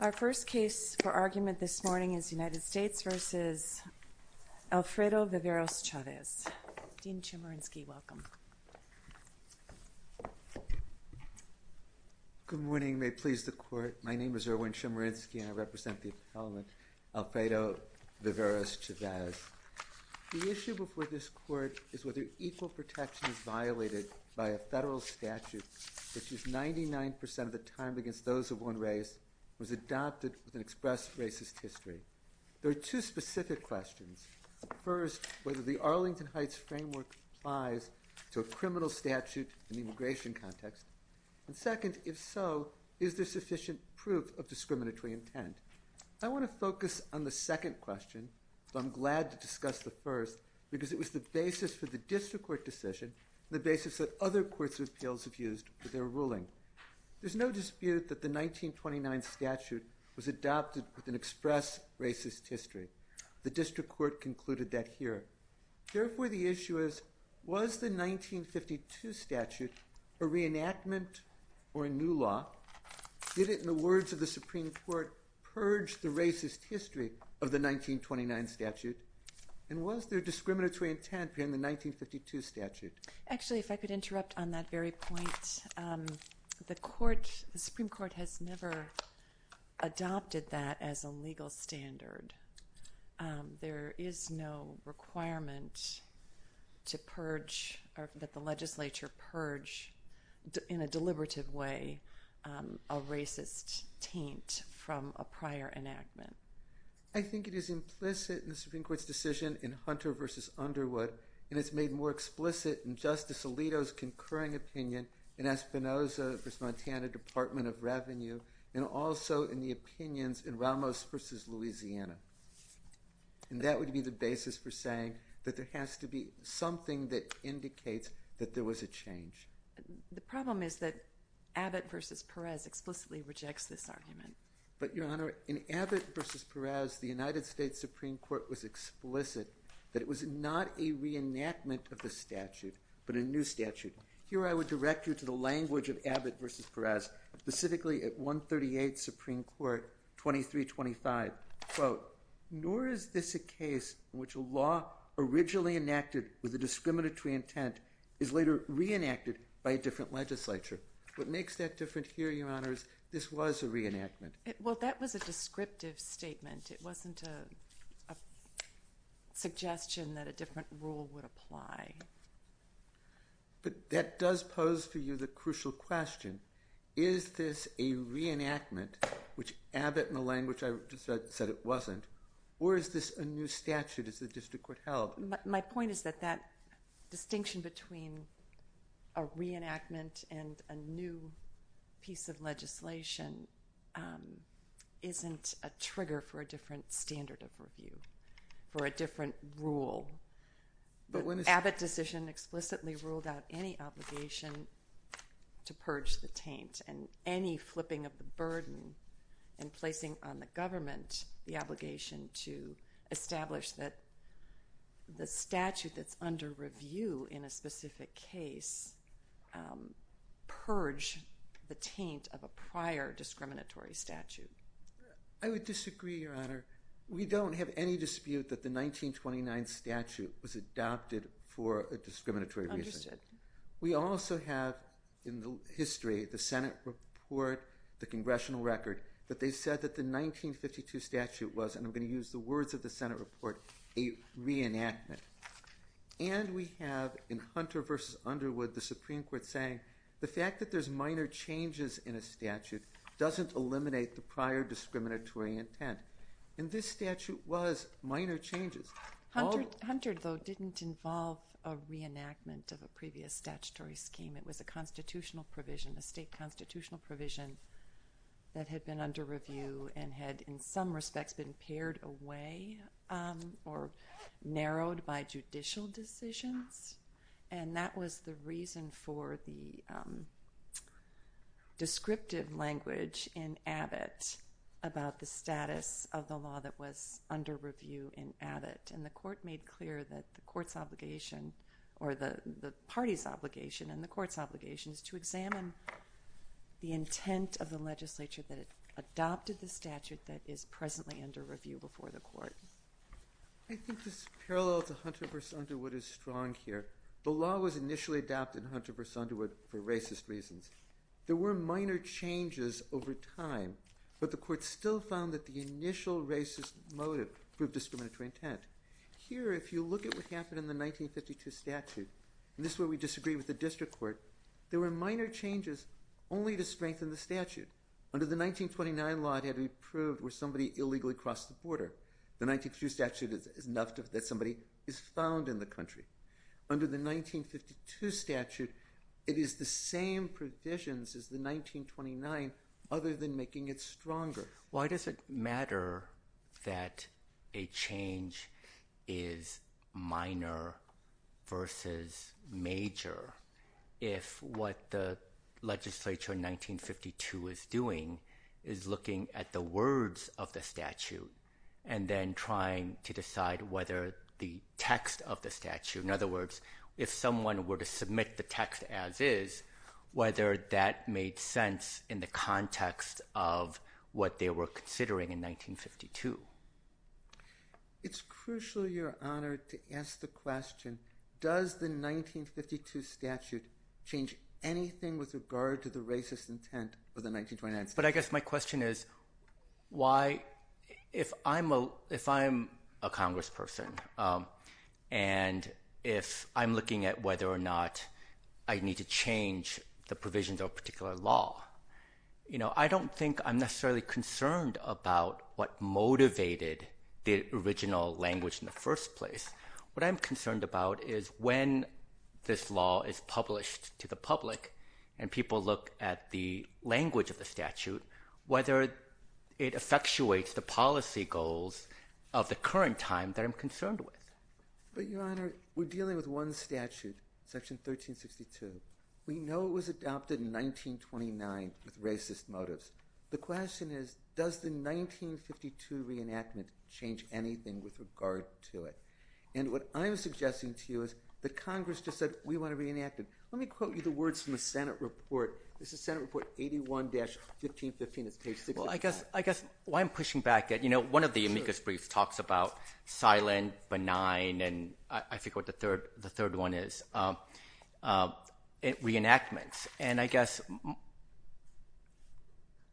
Our first case for argument this morning is United States v. Alfredo Viveros-Chavez. Dean Chemerinsky, welcome. Good morning. May it please the Court. My name is Erwin Chemerinsky and I represent the appellant Alfredo Viveros-Chavez. The issue before this Court is whether equal protection is violated by a federal statute that says 99% of the time against those of one race was adopted with an expressed racist history. There are two specific questions. First, whether the Arlington Heights framework applies to a criminal statute in the immigration context. And second, if so, is there sufficient proof of discriminatory intent? I want to focus on the second question, but I'm glad to discuss the first because it was the basis for the case, the basis that other courts of appeals have used for their ruling. There's no dispute that the 1929 statute was adopted with an express racist history. The district court concluded that here. Therefore, the issue is, was the 1952 statute a reenactment or a new law? Did it, in the words of the Supreme Court, purge the racist history of the 1929 statute? And was there discriminatory intent in the 1952 statute? Actually, if I could interrupt on that very point, the Supreme Court has never adopted that as a legal standard. There is no requirement to purge or that the legislature purge in a deliberative way a statute. The Supreme Court's decision in Hunter v. Underwood, and it's made more explicit in Justice Alito's concurring opinion in Espinoza v. Montana Department of Revenue, and also in the opinions in Ramos v. Louisiana. And that would be the basis for saying that there has to be something that indicates that there was a change. The problem is that Abbott v. Perez explicitly rejects this argument. But, Your Honor, in Abbott v. Perez, the United States Supreme Court was explicit that it was not a reenactment of the statute, but a new statute. Here I would direct you to the language of Abbott v. Perez, specifically at 138 Supreme Court 2325. Quote, nor is this a case in which a law originally enacted with a discriminatory intent is later reenacted by a different legislature. What makes that different here, Your Honor, is this was a reenactment. Well, that was a descriptive statement. It wasn't a suggestion that a different rule would apply. But that does pose to you the crucial question. Is this a reenactment, which Abbott, in the language I just said it wasn't, or is this a new statute as the district court held? My point is that that distinction between a reenactment and a new piece of legislation isn't a trigger for a different standard of review, for a different rule. But when Abbott decision explicitly ruled out any obligation to purge the taint and any flipping of the burden and placing on the government the obligation to establish that the statute that's under review in a specific case purge the taint of a prior discriminatory statute. I would disagree, Your Honor. We don't have any dispute that the 1929 statute was adopted for a discriminatory reason. We also have in the history, the Senate report, the congressional record, that they said that the 1952 statute was, and I'm going to use the words of the Senate report, a reenactment. And we have in Hunter v. Underwood, the Supreme Court saying the fact that there's minor changes in a statute doesn't eliminate the prior discriminatory intent. And this statute was minor changes. Hunter, though, didn't involve a reenactment of a previous statutory scheme. It was a constitutional provision, a state constitutional provision that had been under review and had in some respects been pared away or narrowed by judicial decisions. And that was the reason for the descriptive language in Abbott about the status of the law that was under review in Abbott. And the court made clear that the court's obligation, or the party's obligation and the court's obligation, is to examine the intent of the legislature that adopted the statute that is presently under review before the court. I think this parallel to Hunter v. Underwood is strong here. The law was initially adopted in Hunter v. Underwood for racist reasons. There were minor changes over time, but the court still found that the initial racist motive proved discriminatory intent. Here, if you look at what happened in the 1952 statute, and this is where we disagree with the district court, there were minor changes only to strengthen the statute. Under the 1929 law, it had to be proved where somebody illegally crossed the border. The 1922 statute is enough that somebody is found in the country. Under the 1952 statute, it is the same provisions as the 1929 other than making it stronger. Why does it matter that a change is minor versus major if what the legislature in 1952 is doing is looking at the words of the statute and then trying to decide whether the text of the statute, in other words, if someone were to submit the text as is, whether that made sense in the context of what they were considering in 1952? It's crucial, Your Honor, to ask the question, does the 1952 statute change anything with regard to the racist intent of the 1929 statute? I guess my question is, if I'm a congressperson and if I'm looking at whether or not I need to change the provisions of a particular law, I don't think I'm necessarily concerned about what motivated the original language in the first place. What I'm concerned about is when this law is published to the public and people look at the language of the statute, whether it effectuates the policy goals of the current time that I'm concerned with. But, Your Honor, we're dealing with one statute, Section 1362. We know it was adopted in 1929 with racist motives. The question is, does the 1952 reenactment change anything with regard to it? And what I'm suggesting to you is that Congress just said, we want to reenact it. Let me quote you the words from the Senate report. This is Senate Report 81-1515. I guess why I'm pushing back, one of the amicus briefs talks about silent, benign, and I forget what the third one is, reenactments. And I guess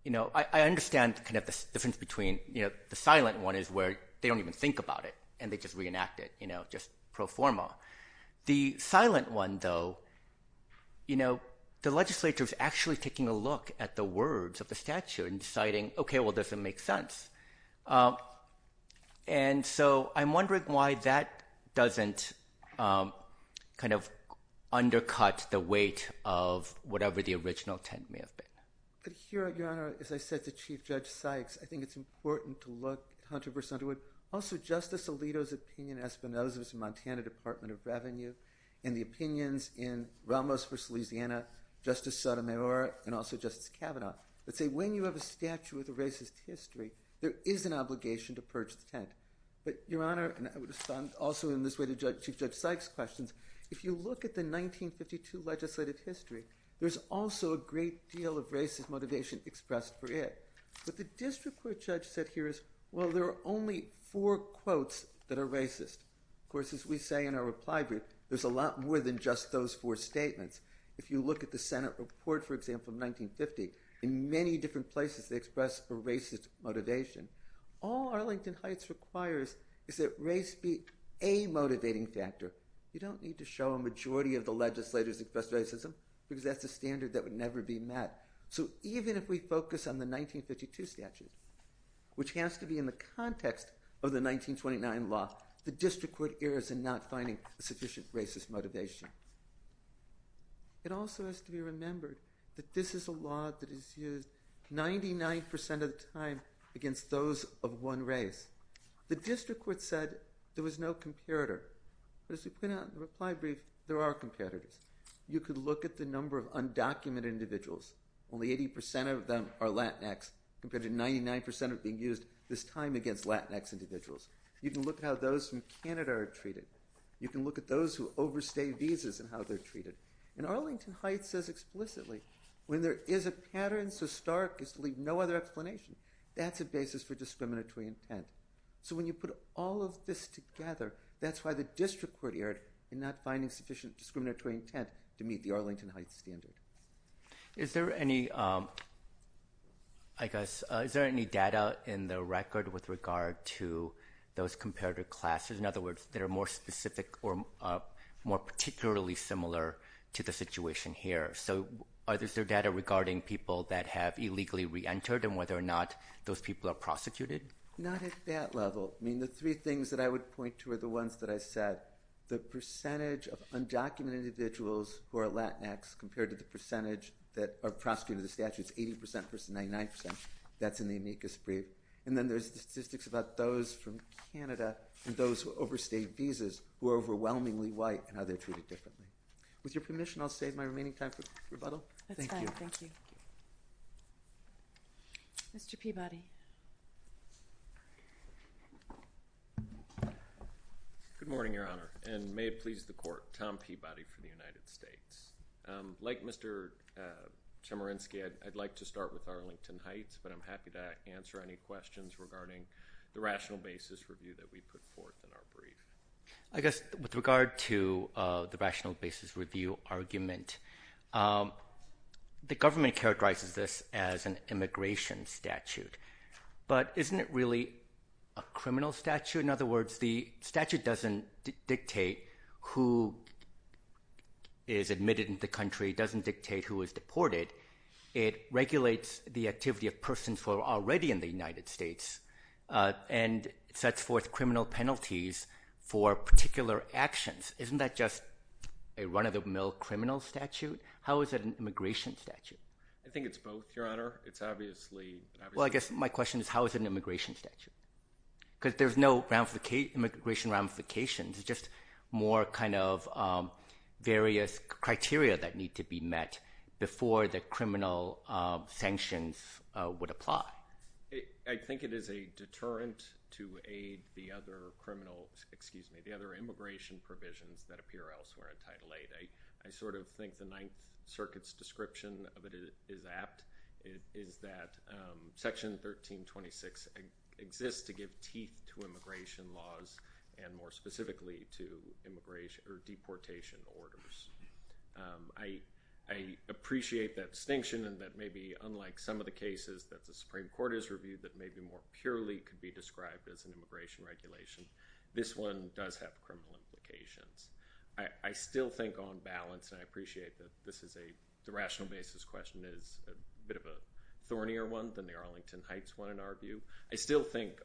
I understand the difference between the silent one is where they don't even think about it and they just reenact it, just pro forma. The silent one, though, you know, the legislature is actually taking a look at the words of the statute and deciding, okay, well, does it make sense? And so I'm wondering why that doesn't kind of undercut the weight of whatever the original intent may have been. But here, Your Honor, as I said to Chief Judge Sykes, I think it's important to look 100 percent. Also, Justice Alito's opinion, Espinoza's in Montana Department of Revenue, and the opinions in Ramos v. Louisiana, Justice Sotomayor, and also Justice Kavanaugh, that say when you have a statute with a racist history, there is an obligation to purge the tent. But, Your Honor, and I would respond also in this way to Chief Judge Sykes' questions, if you look at the 1952 legislative history, there's also a great deal of racist motivation expressed for it. But the district court judge said here is, well, there are only four quotes that are racist. Of course, as we say in our reply brief, there's a lot more than just those four statements. If you look at the Senate report, for example, in 1950, in many different places they expressed a racist motivation. All Arlington Heights requires is that race be a motivating factor. You don't need to show a majority of the legislators expressed racism, because that's a standard that would never be met. So even if we focus on the 1952 statute, which has to be in the context of the 1929 law, the district court errs in not finding sufficient racist motivation. It also has to be remembered that this is a law that is used 99% of the time against those of one race. The district court said there was no comparator, but as we put out in the reply brief, there are comparators. You could look at the number of undocumented individuals. Only 80% of them are Latinx, compared to 99% of being used this time against Latinx individuals. You can look at how those from Canada are treated. You can look at those who overstay visas and how they're treated. And Arlington Heights says explicitly, when there is a pattern so stark as to leave no other explanation, that's a basis for discriminatory intent. So when you put all of this together, that's why the district court erred in not finding sufficient discriminatory intent to meet the Arlington Heights standard. Is there any data in the record with regard to those comparator classes? In other words, that are more specific or more particularly similar to the situation here. So is there data regarding people that have illegally reentered and whether or not those people are prosecuted? Not at that level. I mean, the three things that I would point to are the ones that I said. The percentage of undocumented individuals who are Latinx compared to the percentage that are prosecuted under the statute. It's 80% versus 99%. That's in the amicus brief. And then there's the statistics about those from Canada and those who overstay visas who are overwhelmingly white and how they're treated differently. With your permission, I'll save my remaining time for rebuttal. That's fine. Thank you. Mr. Peabody. Good morning, Your Honor, and may it please the Court. Tom Peabody for the United States. Like Mr. Chemerinsky, I'd like to start with Arlington Heights, but I'm happy to answer any questions regarding the rational basis review that we put forth in our brief. I guess with regard to the rational basis review argument, the government characterizes this as an immigration statute. But isn't it really a criminal statute? In other words, the statute doesn't dictate who is admitted into the country. It doesn't dictate who is deported. It regulates the activity of persons who are already in the United States and sets forth criminal penalties for particular actions. Isn't that just a run-of-the-mill criminal statute? How is it an immigration statute? I think it's both, Your Honor. Well, I guess my question is how is it an immigration statute? Because there's no immigration ramifications. It's just more kind of various criteria that need to be met before the criminal sanctions would apply. I think it is a deterrent to aid the other immigration provisions that appear elsewhere in Title VIII. I sort of think the Ninth Circuit's description of it is apt. It is that Section 1326 exists to give teeth to immigration laws and more specifically to deportation orders. I appreciate that distinction and that maybe unlike some of the cases that the Supreme Court has reviewed that maybe more purely could be described as an immigration regulation, this one does have criminal implications. I still think on balance, and I appreciate that the rational basis question is a bit of a thornier one than the Arlington Heights one in our view. I still think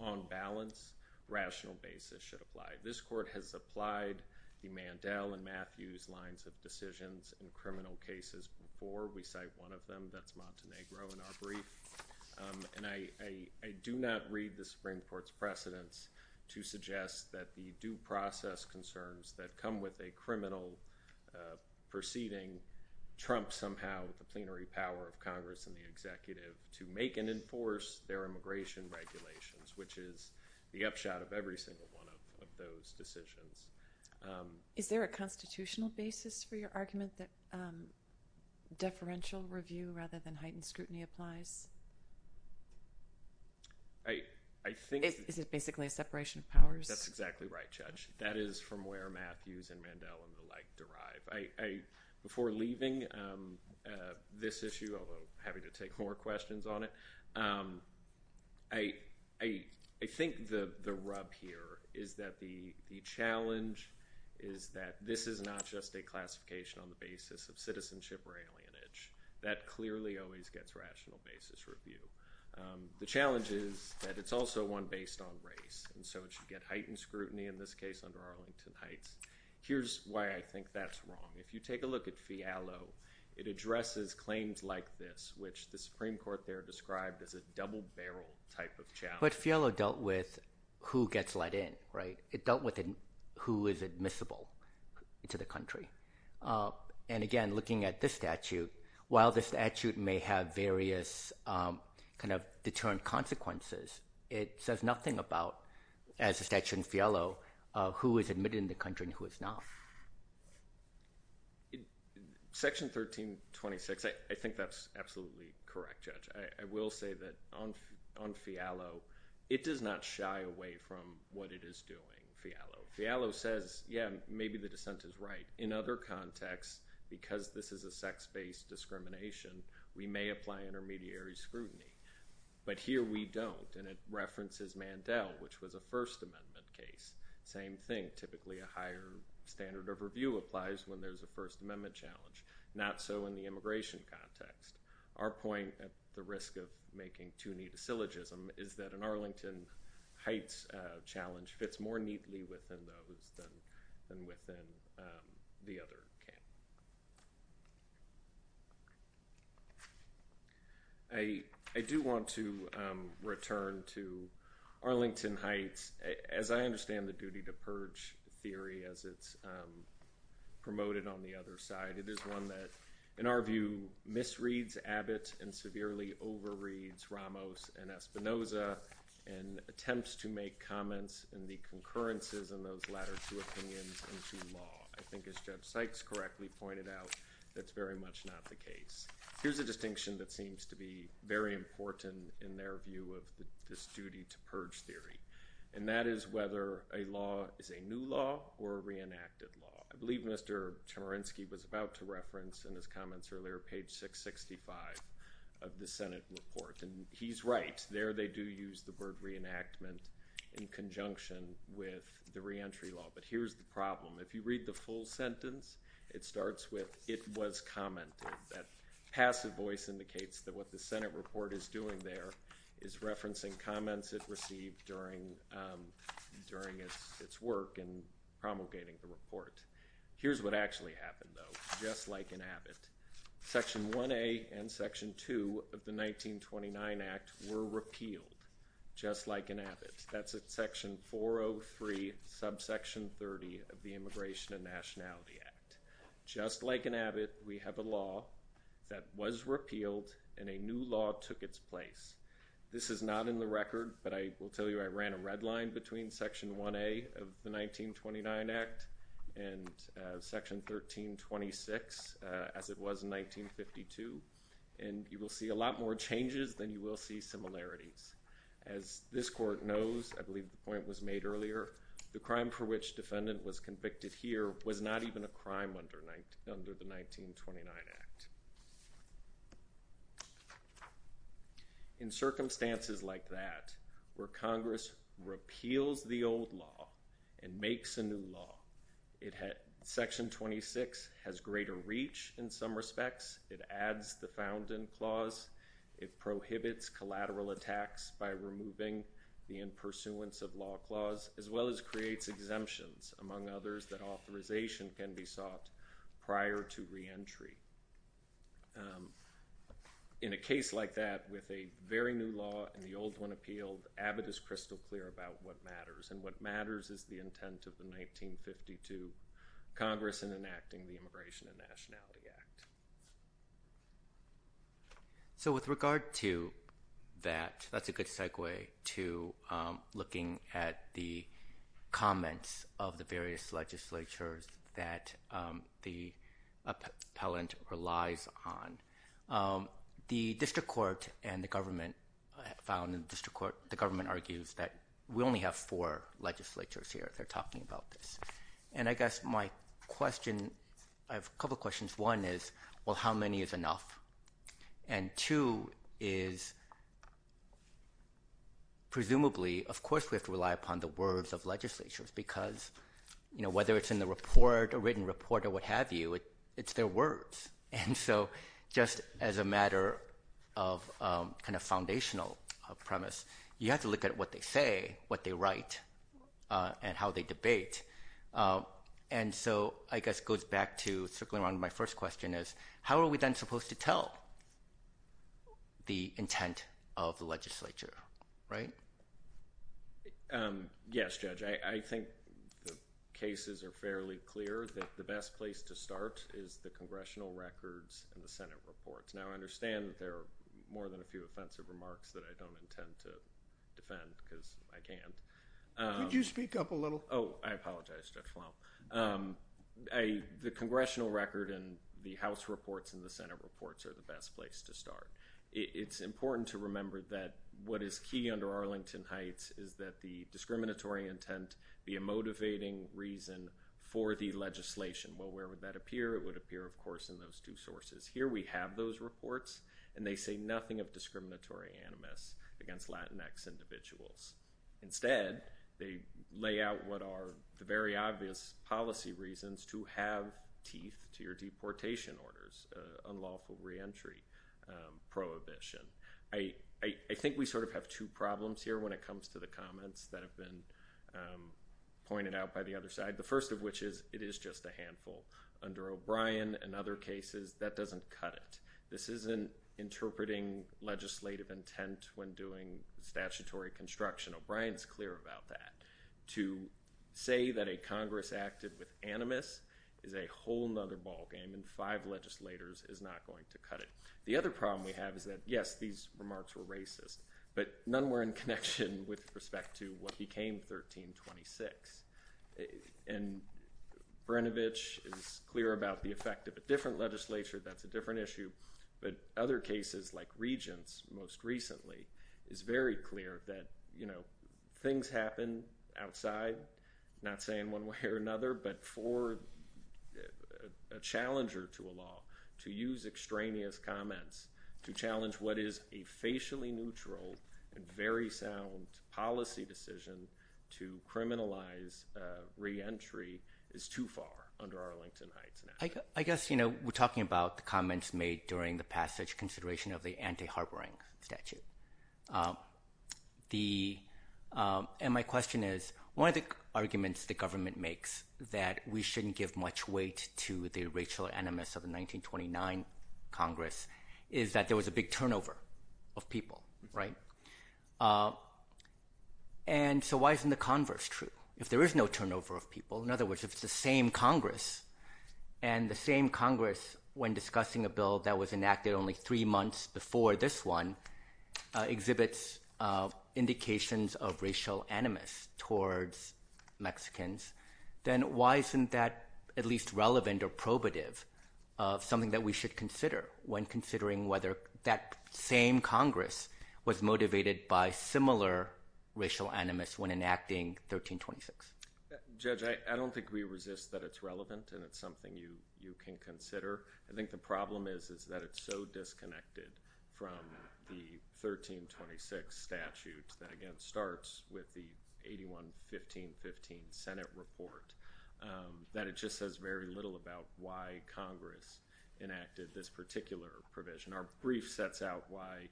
on balance, rational basis should apply. This Court has applied the Mandel and Matthews lines of decisions in criminal cases before. We cite one of them. That's Montenegro in our brief. And I do not read the Supreme Court's precedents to suggest that the due process concerns that come with a criminal proceeding trump somehow the plenary power of Congress and the executive to make and enforce their immigration regulations, which is the upshot of every single one of those decisions. Is there a constitutional basis for your argument that deferential review rather than heightened scrutiny applies? Is it basically a separation of powers? That's exactly right, Judge. That is from where Matthews and Mandel and the like derive. Before leaving this issue, although having to take more questions on it, I think the rub here is that the challenge is that this is not just a classification on the basis of citizenship or alienage. That clearly always gets rational basis review. The challenge is that it's also one based on race, and so it should get heightened scrutiny, in this case under Arlington Heights. Here's why I think that's wrong. If you take a look at Fialo, it addresses claims like this, which the Supreme Court there described as a double-barrel type of challenge. But Fialo dealt with who gets let in, right? It dealt with who is admissible to the country. And again, looking at this statute, while the statute may have various kind of determined consequences, it says nothing about, as a statute in Fialo, who is admitted in the country and who is not. Section 1326, I think that's absolutely correct, Judge. I will say that on Fialo, it does not shy away from what it is doing, Fialo. Fialo says, yeah, maybe the dissent is right. In other contexts, because this is a sex-based discrimination, we may apply intermediary scrutiny. But here we don't, and it references Mandel, which was a First Amendment case. Same thing, typically a higher standard of review applies when there's a First Amendment challenge. Not so in the immigration context. Our point, at the risk of making too neat a syllogism, is that an Arlington Heights challenge fits more neatly within those than within the other camp. I do want to return to Arlington Heights. As I understand the duty to purge theory as it's promoted on the other side, it is one that, in our view, misreads Abbott and severely overreads Ramos and Espinoza and attempts to make comments in the concurrences in those latter two opinions into law. I think as Judge Sykes correctly pointed out, that's very much not the case. Here's a distinction that seems to be very important in their view of this duty to purge theory, and that is whether a law is a new law or a reenacted law. I believe Mr. Chemerinsky was about to reference in his comments earlier page 665 of the Senate report, and he's right, there they do use the word reenactment in conjunction with the reentry law. But here's the problem. If you read the full sentence, it starts with, it was commented. That passive voice indicates that what the Senate report is doing there is referencing comments it received during its work in promulgating the report. Here's what actually happened, though, just like in Abbott. Section 1A and Section 2 of the 1929 Act were repealed, just like in Abbott. That's at Section 403, subsection 30 of the Immigration and Nationality Act. Just like in Abbott, we have a law that was repealed and a new law took its place. This is not in the record, but I will tell you I ran a red line between Section 1A of the 1929 Act and Section 1326 as it was in 1952, and you will see a lot more changes than you will see similarities. As this court knows, I believe the point was made earlier, the crime for which defendant was convicted here was not even a crime under the 1929 Act. In circumstances like that, where Congress repeals the old law and makes a new law, Section 26 has greater reach in some respects. It adds the Founding Clause. It prohibits collateral attacks by removing the In Pursuance of Law Clause, as well as creates exemptions, among others, that authorization can be sought prior to reentry. In a case like that, with a very new law and the old one appealed, Abbott is crystal clear about what matters, and what matters is the intent of the 1952 Congress in enacting the Immigration and Nationality Act. With regard to that, that's a good segue to looking at the comments of the various legislatures that the appellant relies on. The District Court and the government found, the government argues that we only have four legislatures here that are talking about this. And I guess my question, I have a couple questions. One is, well, how many is enough? And two is, presumably, of course we have to rely upon the words of legislatures, because whether it's in the report, a written report, or what have you, it's their words. And so just as a matter of kind of foundational premise, you have to look at what they say, what they write, and how they debate. And so I guess it goes back to circling around my first question is, how are we then supposed to tell the intent of the legislature, right? Yes, Judge. I think the cases are fairly clear that the best place to start is the congressional records and the Senate reports. Now, I understand that there are more than a few offensive remarks that I don't intend to defend, because I can't. Could you speak up a little? Oh, I apologize, Judge Flom. The congressional record and the House reports and the Senate reports are the best place to start. It's important to remember that what is key under Arlington Heights is that the discriminatory intent be a motivating reason for the legislation. Well, where would that appear? It would appear, of course, in those two sources. Here we have those reports, and they say nothing of discriminatory animus against Latinx individuals. Instead, they lay out what are the very obvious policy reasons to have teeth to your deportation orders, unlawful reentry prohibition. I think we sort of have two problems here when it comes to the comments that have been pointed out by the other side, the first of which is it is just a handful. Under O'Brien and other cases, that doesn't cut it. This isn't interpreting legislative intent when doing statutory construction. O'Brien is clear about that. To say that a Congress acted with animus is a whole other ballgame, and five legislators is not going to cut it. The other problem we have is that, yes, these remarks were racist, but none were in connection with respect to what became 1326. And Brinovich is clear about the effect of a different legislature. That's a different issue. But other cases, like Regents most recently, it's very clear that, you know, things happen outside, not saying one way or another, but for a challenger to a law to use extraneous comments to challenge what is a facially neutral and very sound policy decision to criminalize reentry is too far under Arlington Heights. I guess, you know, we're talking about the comments made during the passage consideration of the anti-harboring statute. And my question is, one of the arguments the government makes that we shouldn't give much weight to the racial animus of the 1929 Congress is that there was a big turnover of people, right? And so why isn't the converse true? If there is no turnover of people, in other words, if it's the same Congress, and the same Congress, when discussing a bill that was enacted only three months before this one, exhibits indications of racial animus towards Mexicans, then why isn't that at least relevant or probative of something that we should consider when considering whether that same Congress was motivated by similar racial animus when enacting 1326? Judge, I don't think we resist that it's relevant and it's something you can consider. I think the problem is that it's so disconnected from the 1326 statute that, again, starts with the 81-1515 Senate report that it just says very little about why Congress enacted this particular provision. Our brief sets out why,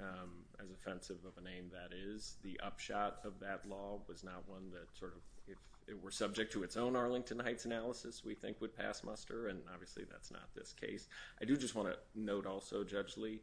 as offensive of a name that is, the upshot of that law was not one that sort of, if it were subject to its own Arlington Heights analysis, we think would pass muster, and obviously that's not this case. I do just want to note also, Judge Lee,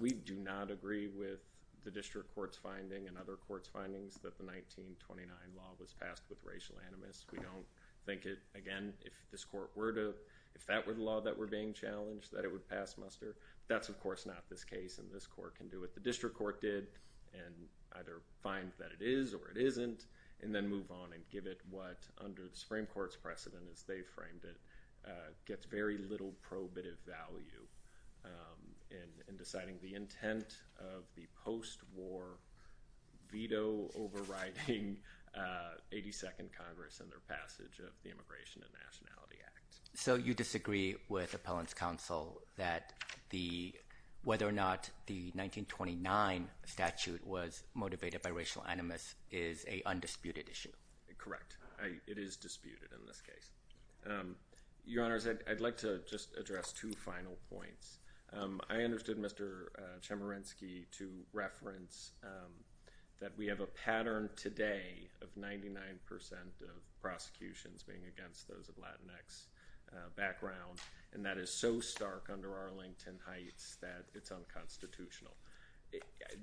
we do not agree with the district court's finding and other courts' findings that the 1929 law was passed with racial animus. We don't think it, again, if this court were to, if that were the law that were being challenged, that it would pass muster. That's of course not this case and this court can do it. and either find that it is or it isn't, and then move on and give it what, under the Supreme Court's precedent as they framed it, gets very little probative value in deciding the intent of the post-war veto overriding 82nd Congress and their passage of the Immigration and Nationality Act. So you disagree with Appellant's counsel that the, whether or not the 1929 statute was motivated by racial animus is a undisputed issue? Correct. It is disputed in this case. Your Honors, I'd like to just address two final points. I understood Mr. Chemerinsky to reference that we have a pattern today of 99% of prosecutions being against those of Latinx background, and that is so stark under Arlington Heights that it's unconstitutional.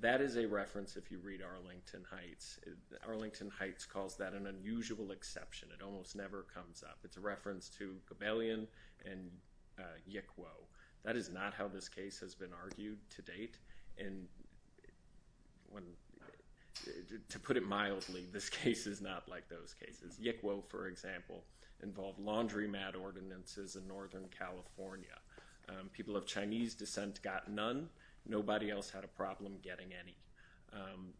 That is a reference if you read Arlington Heights. Arlington Heights calls that an unusual exception. It almost never comes up. It's a reference to Gabellion and Yick Woe. That is not how this case has been argued to date. To put it mildly, this case is not like those cases. Yick Woe, for example, involved laundromat ordinances in Northern California. People of Chinese descent got none. Nobody else had a problem getting any.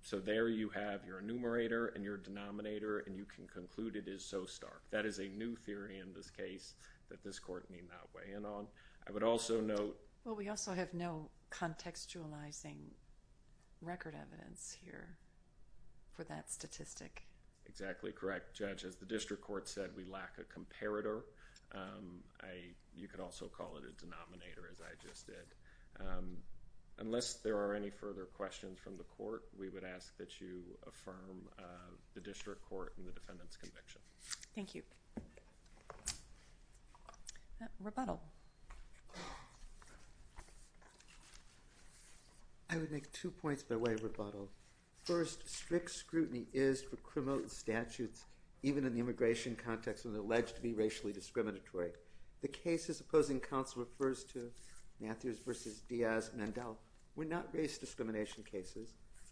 So there you have your enumerator and your denominator, and you can conclude it is so stark. That is a new theory in this case that this Court may not weigh in on. Well, we also have no contextualizing record evidence here for that statistic. Exactly correct, Judge. As the District Court said, we lack a comparator. You could also call it a denominator, as I just did. Unless there are any further questions from the Court, we would ask that you affirm the District Court and the defendant's conviction. Thank you. Rebuttal. I would make two points by way of rebuttal. First, strict scrutiny is for criminal statutes, even in the immigration context, when alleged to be racially discriminatory. The cases opposing counsel refers to, Matthews v. Diaz-Mandel, were not race discrimination cases.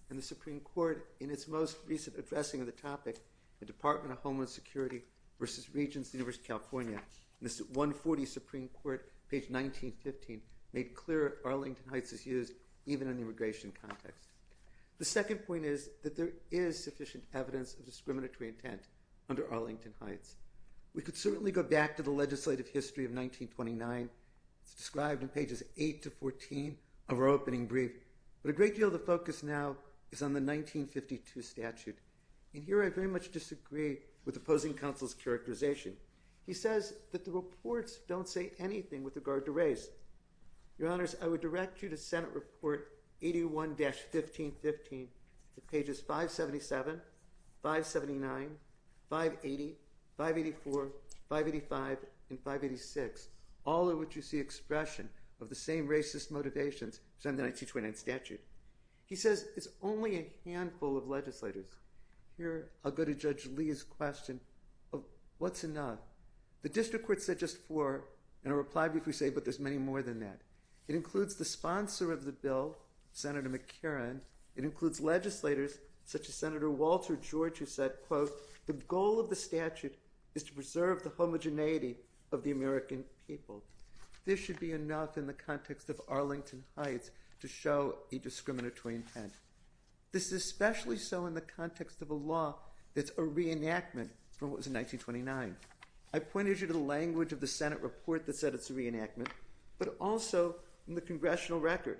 And the Supreme Court, in its most recent addressing of the topic, the Department of Homeland Security v. Regents of the University of California, in its 140th Supreme Court, page 1915, made clear Arlington Heights is used even in the immigration context. The second point is that there is sufficient evidence of discriminatory intent under Arlington Heights. We could certainly go back to the legislative history of 1929. It's described in pages 8 to 14 of our opening brief. But a great deal of the focus now is on the 1952 statute. And here I very much disagree with opposing counsel's characterization. He says that the reports don't say anything with regard to race. Your Honors, I would direct you to Senate Report 81-1515, pages 577, 579, 580, 584, 585, and 586, all of which you see expression of the same racist motivations as in the 1929 statute. He says it's only a handful of legislators. Here I'll go to Judge Lee's question of what's enough. The district court said just four, and I'll reply briefly, but there's many more than that. It includes the sponsor of the bill, Senator McCarran. It includes legislators such as Senator Walter George, who said, quote, The goal of the statute is to preserve the homogeneity of the American people. This should be enough in the context of Arlington Heights to show a discriminatory intent. This is especially so in the context of a law that's a reenactment from what was in 1929. I pointed you to the language of the Senate report that said it's a reenactment, but also in the congressional record.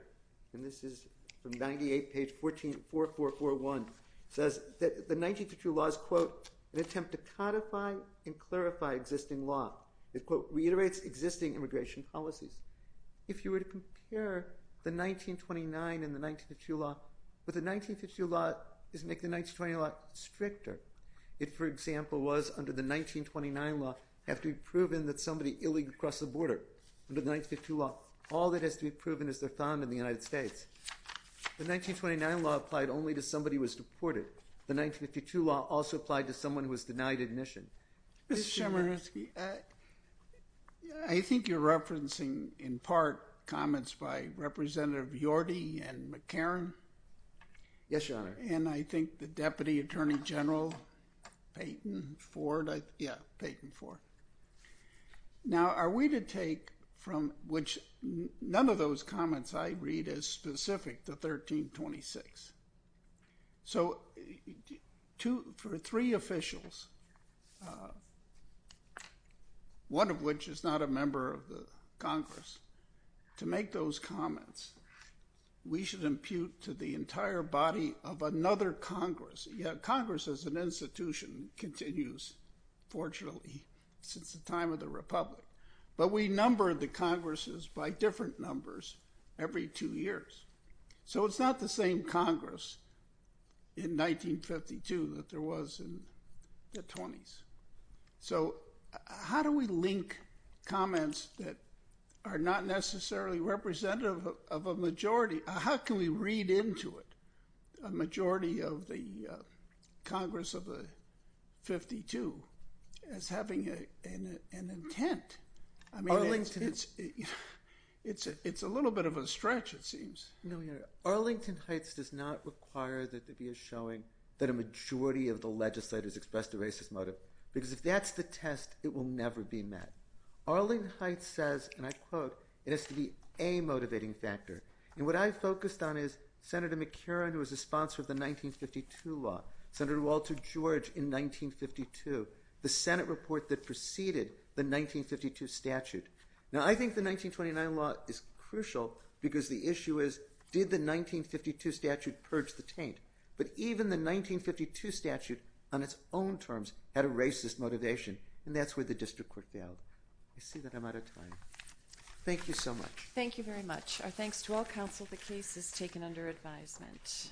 And this is from 98, page 4441. It says that the 1952 law is, quote, an attempt to codify and clarify existing law. It, quote, reiterates existing immigration policies. If you were to compare the 1929 and the 1952 law, what the 1952 law does is make the 1920 law stricter. It, for example, was under the 1929 law have to be proven that somebody illegally crossed the border. Under the 1952 law, all that has to be proven is they're found in the United States. The 1929 law applied only to somebody who was deported. The 1952 law also applied to someone who was denied admission. Mr. Chemerinsky, I think you're referencing in part comments by Representative Yorty and McCarran. Yes, Your Honor. And I think the Deputy Attorney General Payton Ford. Yeah, Payton Ford. Now, are we to take from which none of those comments I read is specific to 1326. So for three officials, one of which is not a member of the Congress, to make those comments, we should impute to the entire body of another Congress. Yeah, Congress as an institution continues, fortunately, since the time of the Republic. But we number the Congresses by different numbers every two years. So it's not the same Congress in 1952 that there was in the 20s. So how do we link comments that are not necessarily representative of a majority? How can we read into it a majority of the Congress of the 52 as having an intent? Arlington, it's a little bit of a stretch, it seems. Arlington Heights does not require that there be a showing that a majority of the legislators expressed a racist motive. Because if that's the test, it will never be met. Arlington Heights says, and I quote, it has to be a motivating factor. And what I focused on is Senator McCarran, who was a sponsor of the 1952 law, Senator Walter George in 1952, the Senate report that preceded the 1952 statute. Now, I think the 1929 law is crucial because the issue is, did the 1952 statute purge the taint? But even the 1952 statute on its own terms had a racist motivation. And that's where the district court failed. I see that I'm out of time. Thank you so much. Thank you very much. Our thanks to all counsel. The case is taken under advisement.